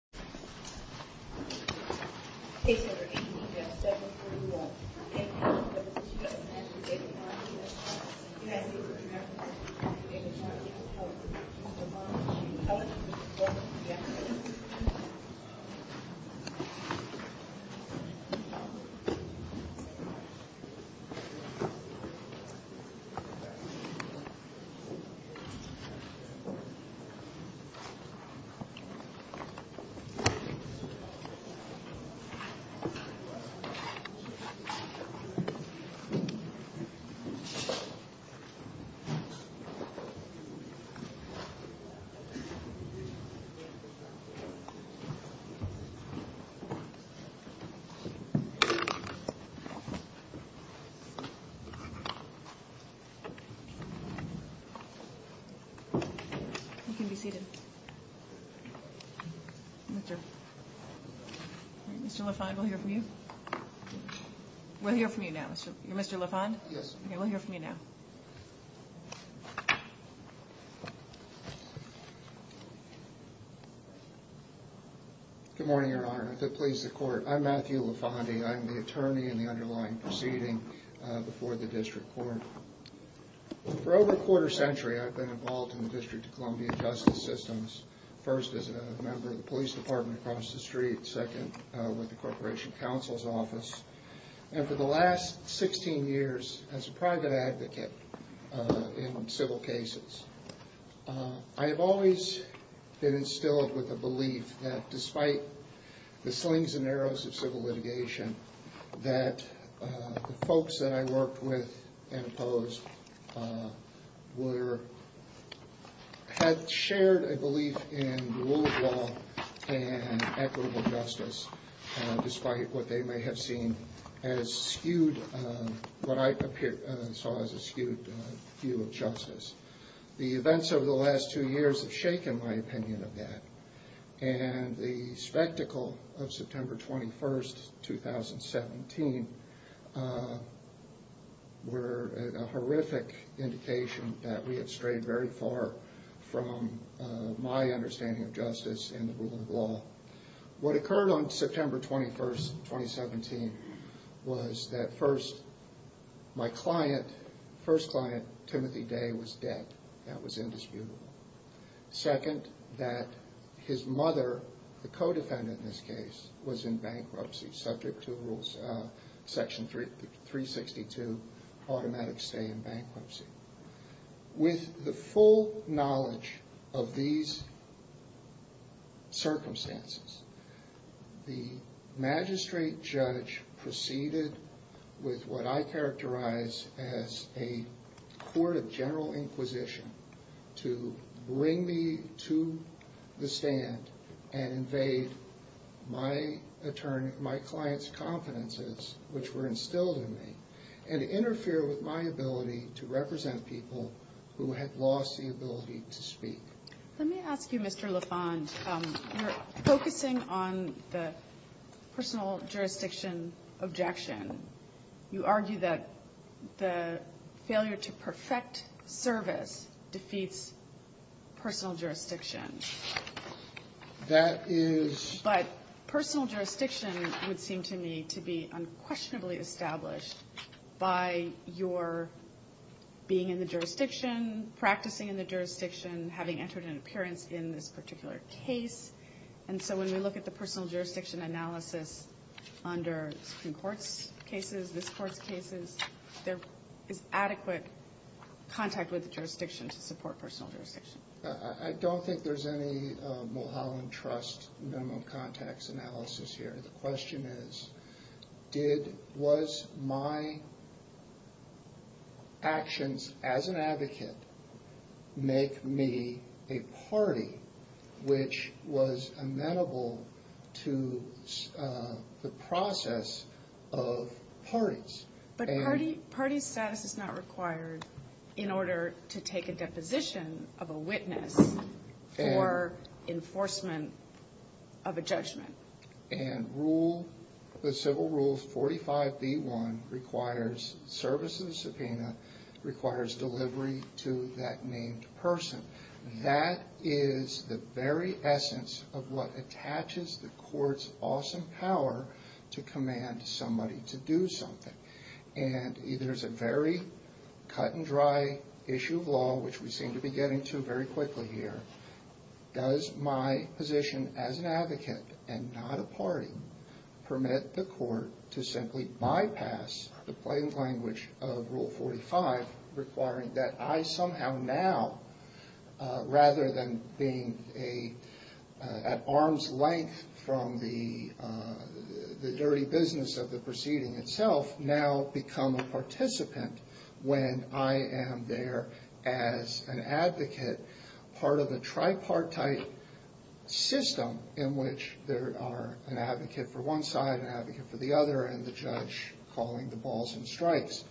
Enabling the American Mid-Centuries to learn more about the American Jewishtight Korean War Most of us do not have access to education just as we picked up on the idea that most 2009 students lost their parents in the Koran confolithic. Mr. Lafond, we'll hear from you now. Good morning, Your Honor. If it pleases the court, I'm Matthew Lafondy. I'm the attorney in the underlying proceeding before the district court. For over a quarter century, I've been involved in the District of Columbia justice systems, first as a member of the police department across the street, second with the corporation counsel's office, and for the last 16 years as a private advocate in civil cases. I have always been instilled with a belief that despite the slings and arrows of civil litigation, that the folks that I worked with and opposed had shared a belief in the rule of law and equitable justice, despite what they may have seen as skewed, what I saw as a skewed view of justice. The events over the last two years have shaken my opinion of that, and the spectacle of September 21st, 2017, were a horrific indication that we had strayed very far from my understanding of justice and the rule of law. What occurred on September 21st, 2017, was that first, my client, first client, Timothy Day, was dead. That was indisputable. Second, that his mother, the co-defendant in this case, was in bankruptcy, subject to rules, section 362, automatic stay in bankruptcy. With the full knowledge of these circumstances, the magistrate judge proceeded with what I characterize as a court of general inquisition to bring me to the stand and invade my client's confidences, which were instilled in me, and interfere with my ability to represent people who had lost the ability to speak. Let me ask you, Mr. LaFont, you're focusing on the personal jurisdiction objection. You argue that the failure to perfect service defeats personal jurisdiction. That is... But personal jurisdiction would seem to me to be unquestionably established by your being in the jurisdiction, practicing in the jurisdiction, having entered an appearance in this particular case. And so when we look at the personal jurisdiction analysis under Supreme Court's cases, this Court's cases, there is adequate contact with the jurisdiction to support personal jurisdiction. I don't think there's any Mulholland Trust minimum contacts analysis here. The question is, did, was my actions as an advocate make me a party which was amenable to the process of parties? But party status is not required in order to take a deposition of a witness for enforcement of a judgment. And rule, the civil rule 45B1 requires service of the subpoena, requires delivery to that named person. That is the very essence of what attaches the Court's awesome power to command somebody to do something. And there's a very cut and dry issue of law, which we seem to be getting to very quickly here. Does my position as an advocate and not a party permit the Court to simply bypass the plain language of rule 45 requiring that I somehow now, rather than being at arm's length from the dirty business of the proceeding itself, now become a participant when I am there as an advocate, part of a tripartite system in which there are an advocate for one side, an advocate for the other, and the judge calling the balls and strikes.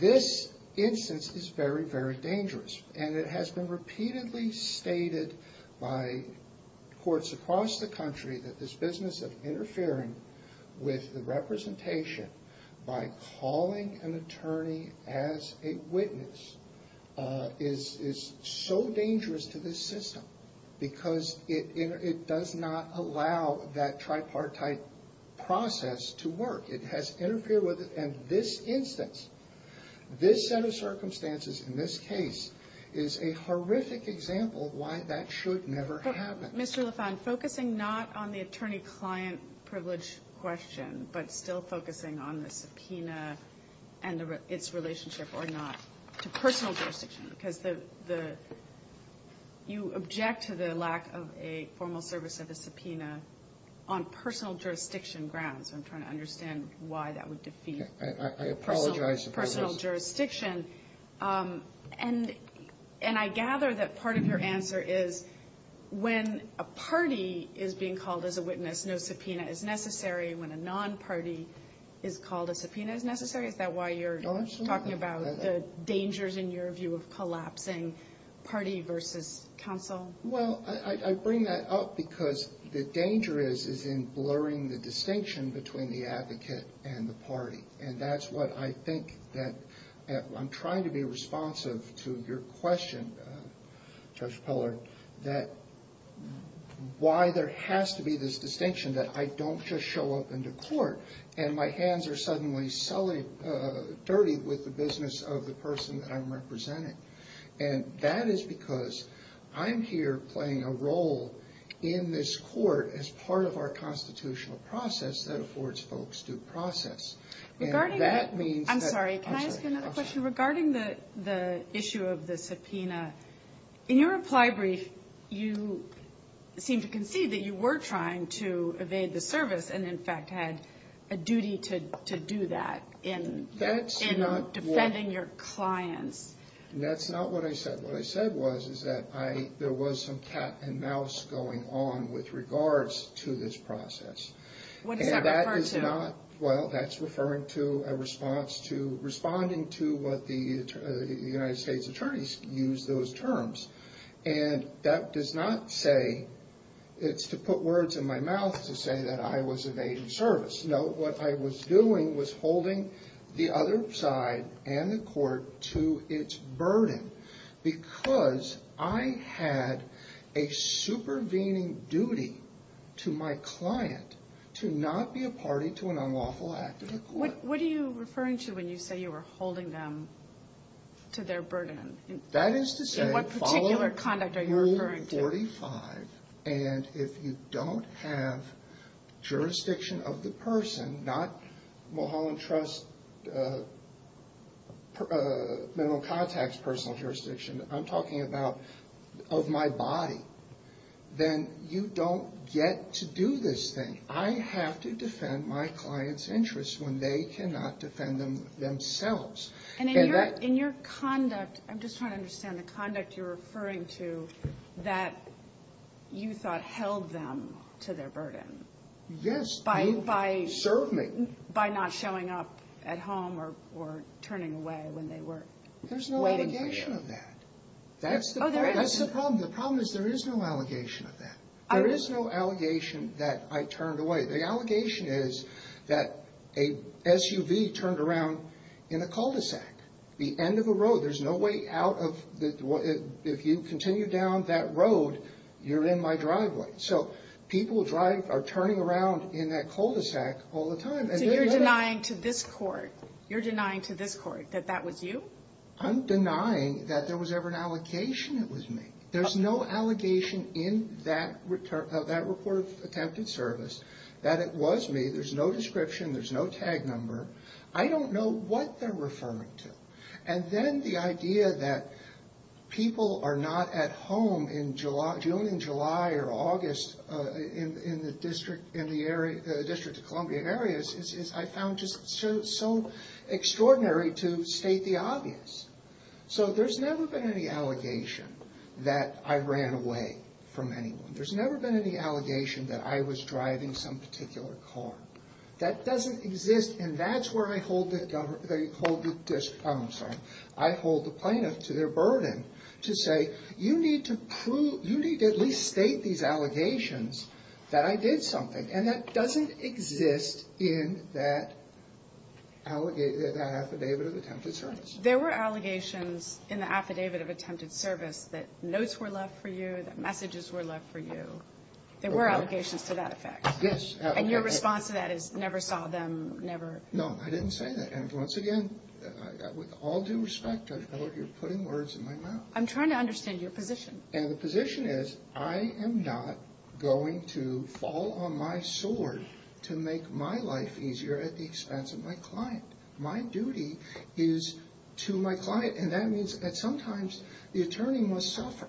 This instance is very, very dangerous, and it has been repeatedly stated by courts across the country that this business of interfering with the representation by calling an attorney as a witness is so dangerous to this system, because it does not allow that tripartite process to work. It has interfered with it, and this instance, this set of circumstances in this case is a horrific example of why that should never happen. Mr. LaFont, focusing not on the attorney-client privilege question, but still focusing on the subpoena and its relationship or not to personal jurisdiction, because the you object to the lack of a formal service of a subpoena on personal jurisdiction grounds. I'm trying to understand why that would defeat personal jurisdiction. And I gather that part of your answer is when a party is being called as a witness, no subpoena is necessary. When a non-party is called, a subpoena is necessary. Is that why you're talking about the dangers in your view of collapsing party versus counsel? Well, I bring that up because the danger is in blurring the distinction between the advocate and the party. And that's what I think that I'm trying to be responsive to your question, Judge Peller, that why there has to be this distinction that I don't just show up into court, and my hands are suddenly dirty with the business of the person that I'm representing. And that is because I'm here playing a role in this court as part of our constitutional process that affords folks due process. I'm sorry, can I ask you another question? Regarding the issue of the subpoena, in your reply brief, you seemed to concede that you were trying to evade the service and in fact had a duty to do that in defending your clients. That's not what I said. What I said was that there was some cat and mouse going on with regards to this process. What does that refer to? Well, that's referring to a response to responding to what the United States attorneys use those terms. And that does not say, it's to put words in my mouth to say that I was evading service. Just note what I was doing was holding the other side and the court to its burden. Because I had a supervening duty to my client to not be a party to an unlawful act of the court. What are you referring to when you say you were holding them to their burden? That is to say, follow Rule 45. And if you don't have jurisdiction of the person, not Mulholland Trust Minimal Contacts personal jurisdiction, I'm talking about of my body. Then you don't get to do this thing. I have to defend my client's interests when they cannot defend them themselves. And in your conduct, I'm just trying to understand the conduct you're referring to that you thought held them to their burden. Yes. By not showing up at home or turning away when they were waiting for you. There's no allegation of that. That's the problem. The problem is there is no allegation of that. There is no allegation that I turned away. The allegation is that a SUV turned around in a cul-de-sac. The end of the road. There's no way out. If you continue down that road, you're in my driveway. So people are turning around in that cul-de-sac all the time. So you're denying to this court that that was you? I'm denying that there was ever an allegation it was me. There's no allegation in that report of attempted service that it was me. There's no description. There's no tag number. I don't know what they're referring to. And then the idea that people are not at home in June and July or August in the District of Columbia areas, I found just so extraordinary to state the obvious. So there's never been any allegation that I ran away from anyone. There's never been any allegation that I was driving some particular car. That doesn't exist. And that's where I hold the plaintiff to their burden to say, you need to at least state these allegations that I did something. And that doesn't exist in that affidavit of attempted service. There were allegations in the affidavit of attempted service that notes were left for you, that messages were left for you. There were allegations to that effect. Yes. And your response to that is never saw them, never. No, I didn't say that. And once again, with all due respect, I know you're putting words in my mouth. I'm trying to understand your position. And the position is I am not going to fall on my sword to make my life easier at the expense of my client. My duty is to my client. And that means that sometimes the attorney must suffer.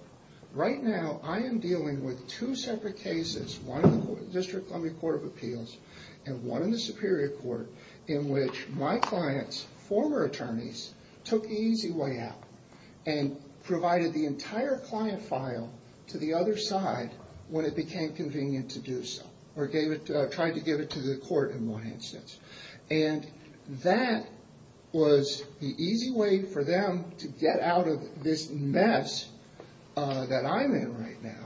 Right now, I am dealing with two separate cases, one in the District Columbia Court of Appeals and one in the Superior Court in which my client's former attorneys took the easy way out and provided the entire client file to the other side when it became convenient to do so or tried to give it to the court in my instance. And that was the easy way for them to get out of this mess that I'm in right now.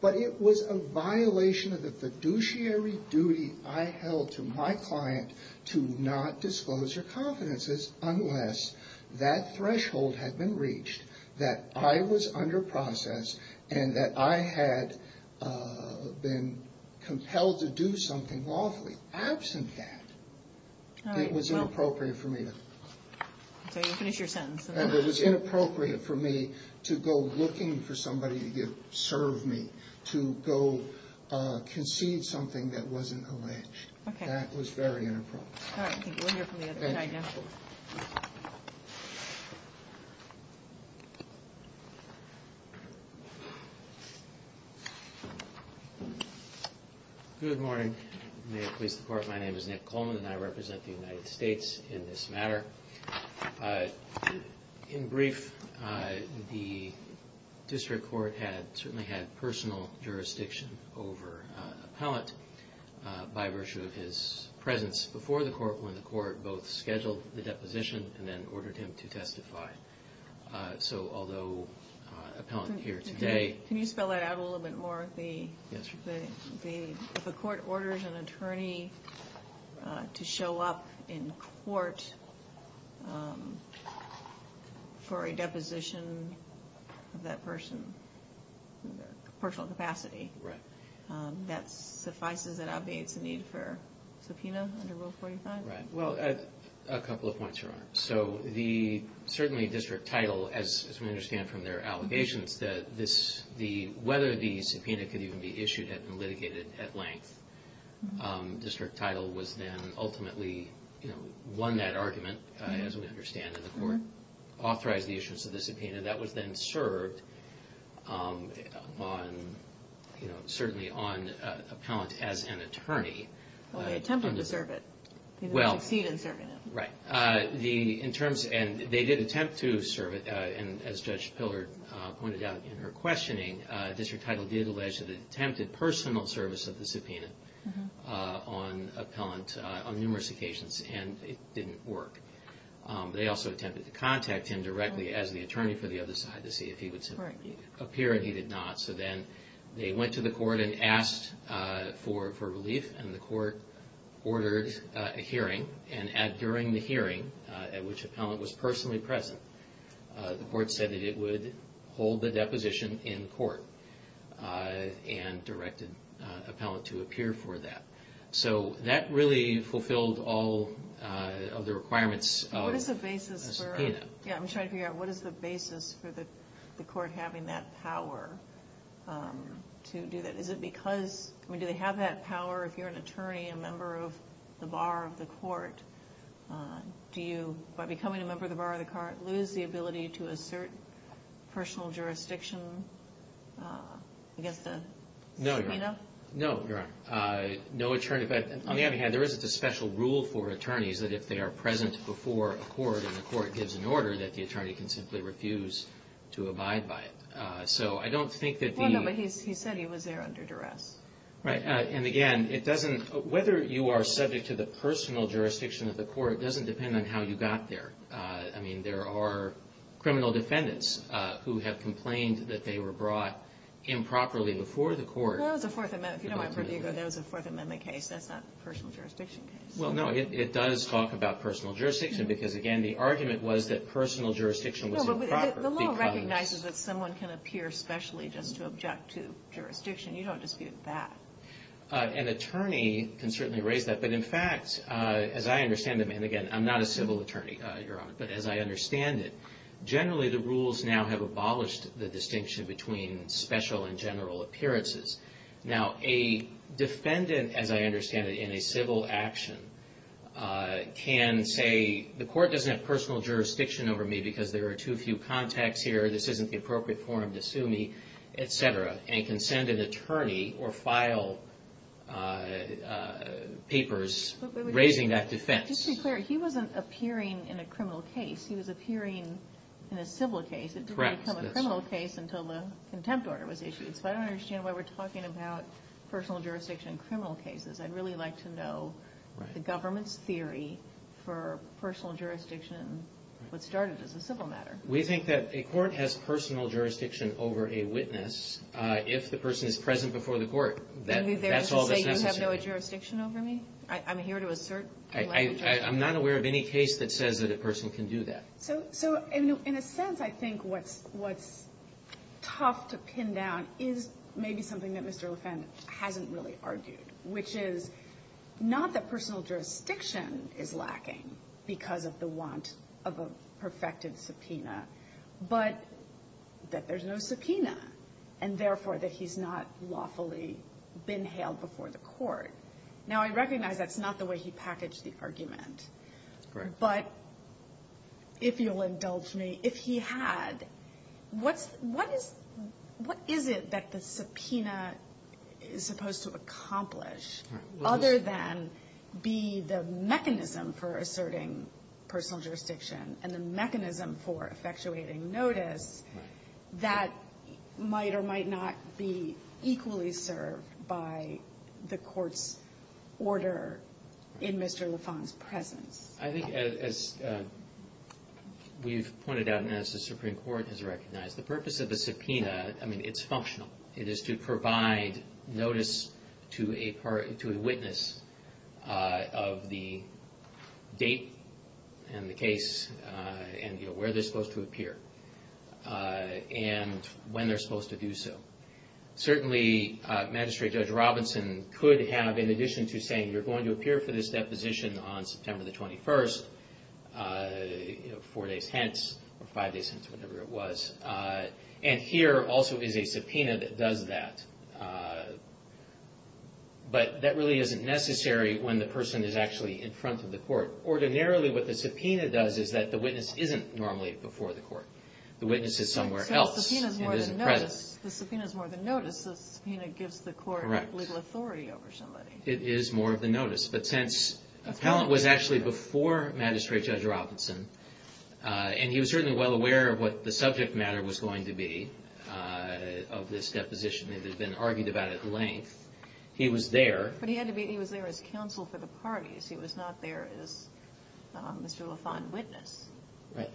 But it was a violation of the fiduciary duty I held to my client to not disclose their confidences unless that threshold had been reached that I was under process and that I had been compelled to do something lawfully. Absent that, it was inappropriate for me to go looking for somebody to serve me, to go concede something that wasn't alleged. That was very inappropriate. All right. I think we'll hear from the other side now. Thank you. Good morning. May it please the Court. My name is Nick Coleman and I represent the United States in this matter. In brief, the district court had certainly had personal jurisdiction over an appellant by virtue of his presence before the court when the court both scheduled the deposition and then ordered him to testify. So although an appellant here today Can you spell that out a little bit more? Yes. If a court orders an attorney to show up in court for a deposition of that person, personal capacity, that suffices and obviates the need for subpoena under Rule 45? Right. Well, a couple of points, Your Honor. So the certainly district title, as we understand from their allegations, that whether the subpoena could even be issued had been litigated at length. District title was then ultimately won that argument, as we understand in the court, authorized the issuance of the subpoena. That was then served certainly on appellant as an attorney. Well, they attempted to serve it. They didn't succeed in serving it. Right. And they did attempt to serve it, and as Judge Pillard pointed out in her questioning, district title did allege that it attempted personal service of the subpoena on appellant on numerous occasions, and it didn't work. They also attempted to contact him directly as the attorney for the other side to see if he would appear, and he did not. So then they went to the court and asked for relief, and the court ordered a hearing, and during the hearing, at which appellant was personally present, the court said that it would hold the deposition in court and directed appellant to appear for that. So that really fulfilled all of the requirements of the subpoena. Yeah, I'm trying to figure out what is the basis for the court having that power to do that. Is it because, I mean, do they have that power if you're an attorney, a member of the bar of the court? Do you, by becoming a member of the bar of the court, lose the ability to assert personal jurisdiction against a subpoena? No, Your Honor. No, Your Honor. No attorney. On the other hand, there isn't a special rule for attorneys that if they are present before a court and the court gives an order that the attorney can simply refuse to abide by it. So I don't think that the- Because he said he was there under duress. Right. And again, it doesn't, whether you are subject to the personal jurisdiction of the court doesn't depend on how you got there. I mean, there are criminal defendants who have complained that they were brought improperly before the court. That was a Fourth Amendment, if you don't mind, that was a Fourth Amendment case. That's not a personal jurisdiction case. Well, no, it does talk about personal jurisdiction because, again, the argument was that personal jurisdiction was improper because- You don't dispute that. An attorney can certainly raise that, but in fact, as I understand them, and again, I'm not a civil attorney, Your Honor, but as I understand it, generally the rules now have abolished the distinction between special and general appearances. Now, a defendant, as I understand it, in a civil action can say, the court doesn't have personal jurisdiction over me because there are too few contacts here. This isn't the appropriate forum to sue me, et cetera, and can send an attorney or file papers raising that defense. Just to be clear, he wasn't appearing in a criminal case. He was appearing in a civil case. It didn't become a criminal case until the contempt order was issued. So I don't understand why we're talking about personal jurisdiction in criminal cases. I'd really like to know the government's theory for personal jurisdiction, what started as a civil matter. We think that a court has personal jurisdiction over a witness if the person is present before the court. That's all that's necessary. Are you there to say you have no jurisdiction over me? I'm here to assert- I'm not aware of any case that says that a person can do that. So in a sense, I think what's tough to pin down is maybe something that Mr. LeFant hasn't really argued, which is not that personal jurisdiction is lacking because of the want of a perfected subpoena, but that there's no subpoena, and therefore, that he's not lawfully been hailed before the court. Now, I recognize that's not the way he packaged the argument. That's correct. But if you'll indulge me, if he had, what's the --? What is it that the subpoena is supposed to accomplish other than be the mechanism for asserting personal jurisdiction and the mechanism for effectuating notice that might or might not be equally served by the court's order in Mr. LeFant's presence? I think, as we've pointed out and as the Supreme Court has recognized, the purpose of the subpoena, I mean, it's functional. It is to provide notice to a witness of the date and the case and where they're supposed to appear and when they're supposed to do so. Certainly, Magistrate Judge Robinson could have, in addition to saying, you're going to appear for this deposition on September the 21st, four days hence or five days hence, whatever it was. And here also is a subpoena that does that. But that really isn't necessary when the person is actually in front of the court. Ordinarily, what the subpoena does is that the witness isn't normally before the court. The witness is somewhere else and isn't present. So the subpoena is more than notice. The subpoena gives the court legal authority over somebody. It is more than notice. But since Appellant was actually before Magistrate Judge Robinson, and he was certainly well aware of what the subject matter was going to be of this deposition that had been argued about at length, he was there. But he was there as counsel for the parties. He was not there as Mr. LeFant's witness.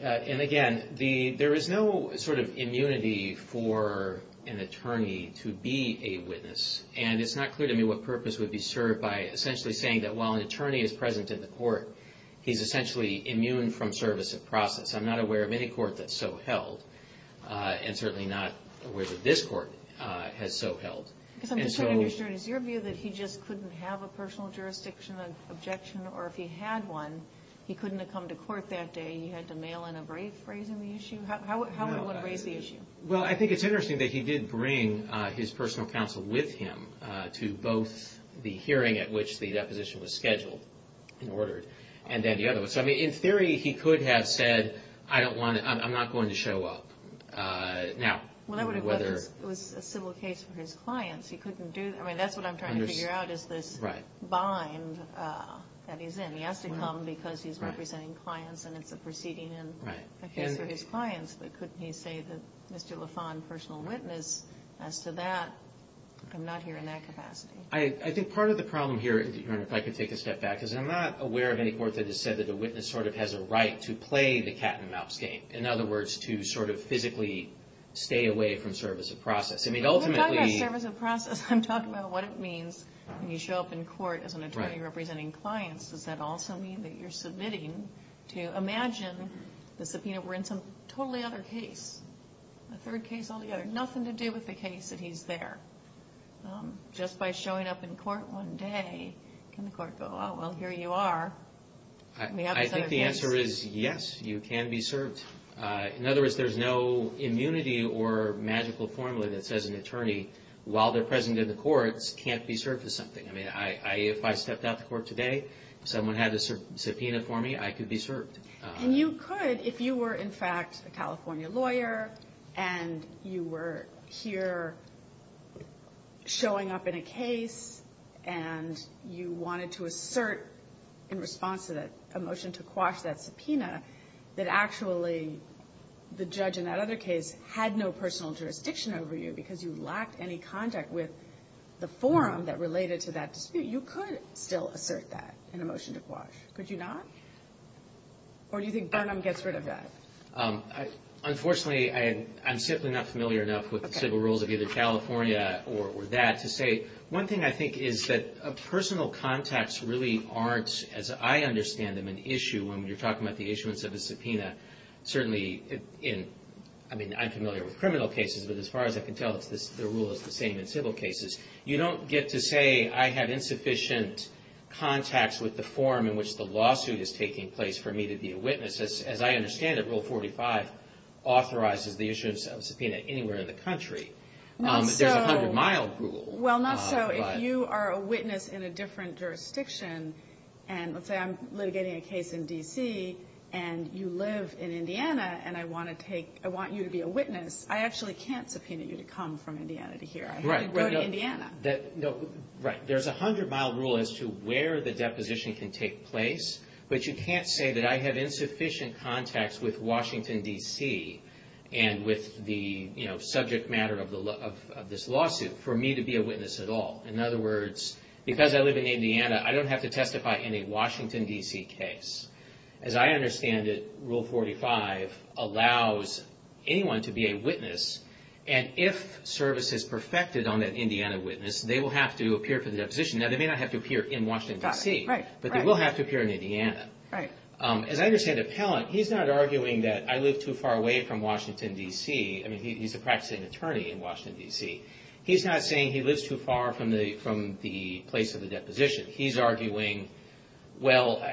And again, there is no sort of immunity for an attorney to be a witness. And it's not clear to me what purpose would be served by essentially saying that while an attorney is present in the court, he's essentially immune from service of process. I'm not aware of any court that's so held. And certainly not aware that this court has so held. Because I'm just trying to understand. Is your view that he just couldn't have a personal jurisdiction objection? Or if he had one, he couldn't have come to court that day? He had to mail in a brief raising the issue? How would one raise the issue? Well, I think it's interesting that he did bring his personal counsel with him to both the hearing at which the deposition was scheduled and ordered, and then the other one. So, I mean, in theory, he could have said, I don't want to, I'm not going to show up now. Well, that would have been a civil case for his clients. He couldn't do that. I mean, that's what I'm trying to figure out is this bind that he's in. He has to come because he's representing clients and it's a proceeding in a case for his clients. But couldn't he say that Mr. LaFond, personal witness, as to that, I'm not hearing that capacity. I think part of the problem here, if I could take a step back, is I'm not aware of any court that has said that a witness sort of has a right to play the cat and mouse game. In other words, to sort of physically stay away from service of process. I mean, ultimately. I'm not talking about service of process. I'm talking about what it means when you show up in court as an attorney representing clients. Does that also mean that you're submitting to imagine the subpoena were in some totally other case? A third case altogether. Nothing to do with the case that he's there. Just by showing up in court one day, can the court go, oh, well, here you are. I think the answer is yes, you can be served. In other words, there's no immunity or magical formula that says an attorney, while they're present in the courts, can't be served with something. I mean, if I stepped out to court today, someone had a subpoena for me, I could be served. And you could if you were, in fact, a California lawyer, and you were here showing up in a case, and you wanted to assert in response to a motion to quash that subpoena, that actually the judge in that other case had no personal jurisdiction over you because you lacked any contact with the forum that related to that dispute, you could still assert that in a motion to quash. Could you not? Or do you think Burnham gets rid of that? Unfortunately, I'm simply not familiar enough with the civil rules of either California or that to say. One thing I think is that personal contacts really aren't, as I understand them, an issue. When you're talking about the issuance of a subpoena, certainly in, I mean, I'm familiar with criminal cases, but as far as I can tell, the rule is the same in civil cases. You don't get to say I have insufficient contacts with the forum in which the lawsuit is taking place for me to be a witness. As I understand it, Rule 45 authorizes the issuance of a subpoena anywhere in the country. There's a 100-mile rule. Well, not so. If you are a witness in a different jurisdiction, and let's say I'm litigating a case in D.C., and you live in Indiana, and I want you to be a witness, I actually can't subpoena you to come from Indiana to here. I have to go to Indiana. Right. There's a 100-mile rule as to where the deposition can take place, but you can't say that I have insufficient contacts with Washington, D.C., and with the subject matter of this lawsuit for me to be a witness at all. In other words, because I live in Indiana, I don't have to testify in a Washington, D.C. case. As I understand it, Rule 45 allows anyone to be a witness, and if service is perfected on that Indiana witness, they will have to appear for the deposition. Now, they may not have to appear in Washington, D.C., but they will have to appear in Indiana. As I understand it, Pellant, he's not arguing that I live too far away from Washington, D.C. I mean, he's a practicing attorney in Washington, D.C. He's not saying he lives too far from the place of the deposition. He's arguing, well,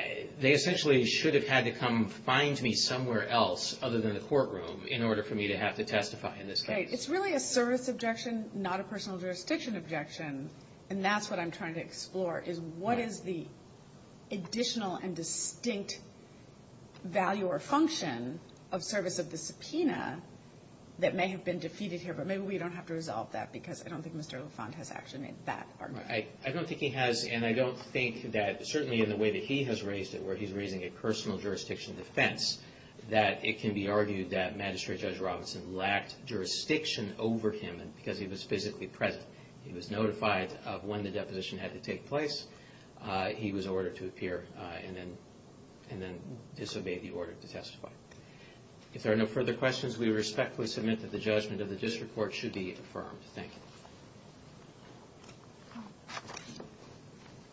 they essentially should have had to come find me somewhere else other than the courtroom in order for me to have to testify in this case. Okay. It's really a service objection, not a personal jurisdiction objection, and that's what I'm trying to explore is what is the additional and distinct value or function of service of the subpoena that may have been defeated here, but maybe we don't have to resolve that because I don't think Mr. LaFont has actually made that argument. I don't think he has, and I don't think that certainly in the way that he has raised it, where he's raising a personal jurisdiction defense, that it can be argued that Magistrate Judge Robinson lacked jurisdiction over him because he was physically present. He was notified of when the deposition had to take place. He was ordered to appear and then disobeyed the order to testify. If there are no further questions, we respectfully submit that the judgment of the district court should be affirmed. Thank you.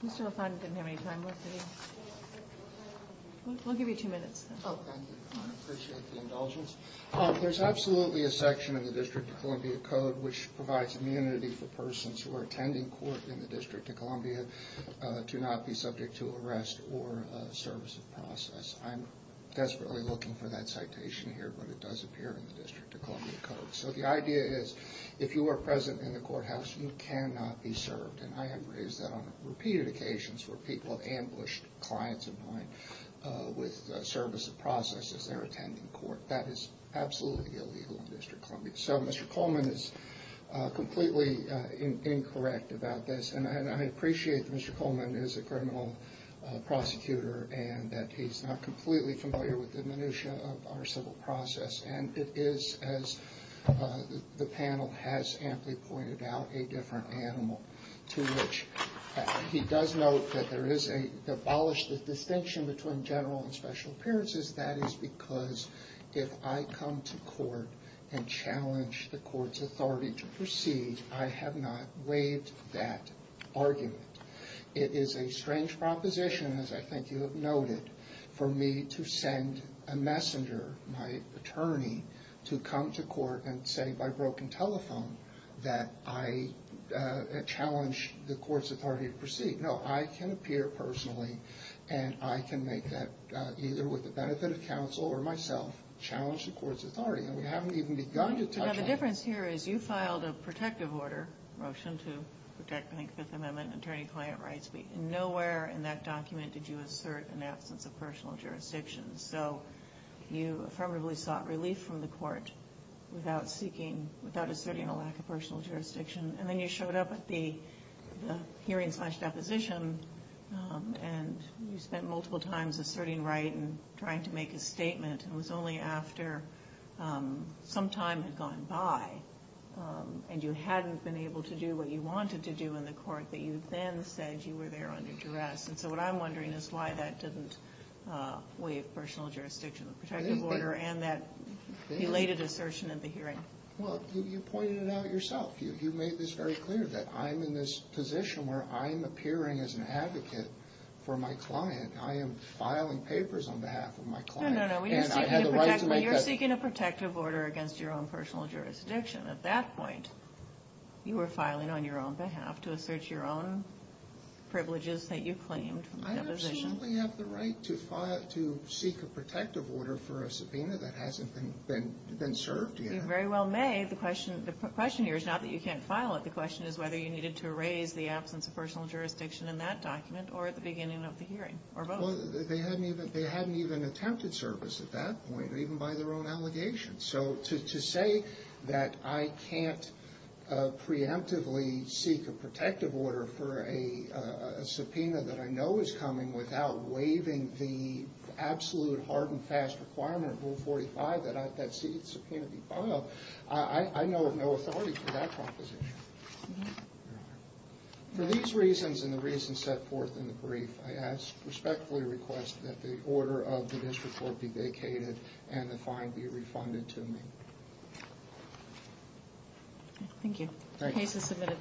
Mr. LaFont didn't have any time left, did he? We'll give you two minutes. Oh, thank you. I appreciate the indulgence. There's absolutely a section in the District of Columbia Code which provides immunity for persons who are attending court in the District of Columbia to not be subject to arrest or service of process. I'm desperately looking for that citation here, but it does appear in the District of Columbia Code. So the idea is if you are present in the courthouse, you cannot be served, and I have raised that on repeated occasions where people have ambushed clients of mine with service of process as they're attending court. That is absolutely illegal in the District of Columbia. So Mr. Coleman is completely incorrect about this, and I appreciate that Mr. Coleman is a criminal prosecutor and that he's not completely familiar with the minutia of our civil process, and it is, as the panel has amply pointed out, a different animal. He does note that there is an abolished distinction between general and special appearances. That is because if I come to court and challenge the court's authority to proceed, I have not waived that argument. It is a strange proposition, as I think you have noted, for me to send a messenger, my attorney, to come to court and say by broken telephone that I challenge the court's authority to proceed. No, I can appear personally, and I can make that, either with the benefit of counsel or myself, challenge the court's authority. And we haven't even begun to touch on this. The difference here is you filed a protective order, a motion to protect, I think, Fifth Amendment attorney-client rights, but nowhere in that document did you assert an absence of personal jurisdiction. So you affirmatively sought relief from the court without seeking, without asserting a lack of personal jurisdiction. And then you showed up at the hearing slash deposition, and you spent multiple times asserting right and trying to make a statement, and it was only after some time had gone by and you hadn't been able to do what you wanted to do in the court that you then said you were there under duress. And so what I'm wondering is why that didn't waive personal jurisdiction, the protective order, and that related assertion at the hearing. Well, you pointed it out yourself. You made this very clear that I'm in this position where I'm appearing as an advocate for my client. I am filing papers on behalf of my client. No, no, no. You're seeking a protective order against your own personal jurisdiction. At that point, you were filing on your own behalf to assert your own privileges that you claimed. I absolutely have the right to seek a protective order for a subpoena that hasn't been served yet. You very well may. The question here is not that you can't file it. The question is whether you needed to raise the absence of personal jurisdiction in that document or at the beginning of the hearing or both. Well, they hadn't even attempted service at that point, even by their own allegations. So to say that I can't preemptively seek a protective order for a subpoena that I know is coming without waiving the absolute hard and fast requirement of Rule 45 that that subpoena be filed, I know of no authority for that proposition. For these reasons and the reasons set forth in the brief, I respectfully request that the order of the district court be vacated and the fine be refunded to me. Thank you. Case is submitted.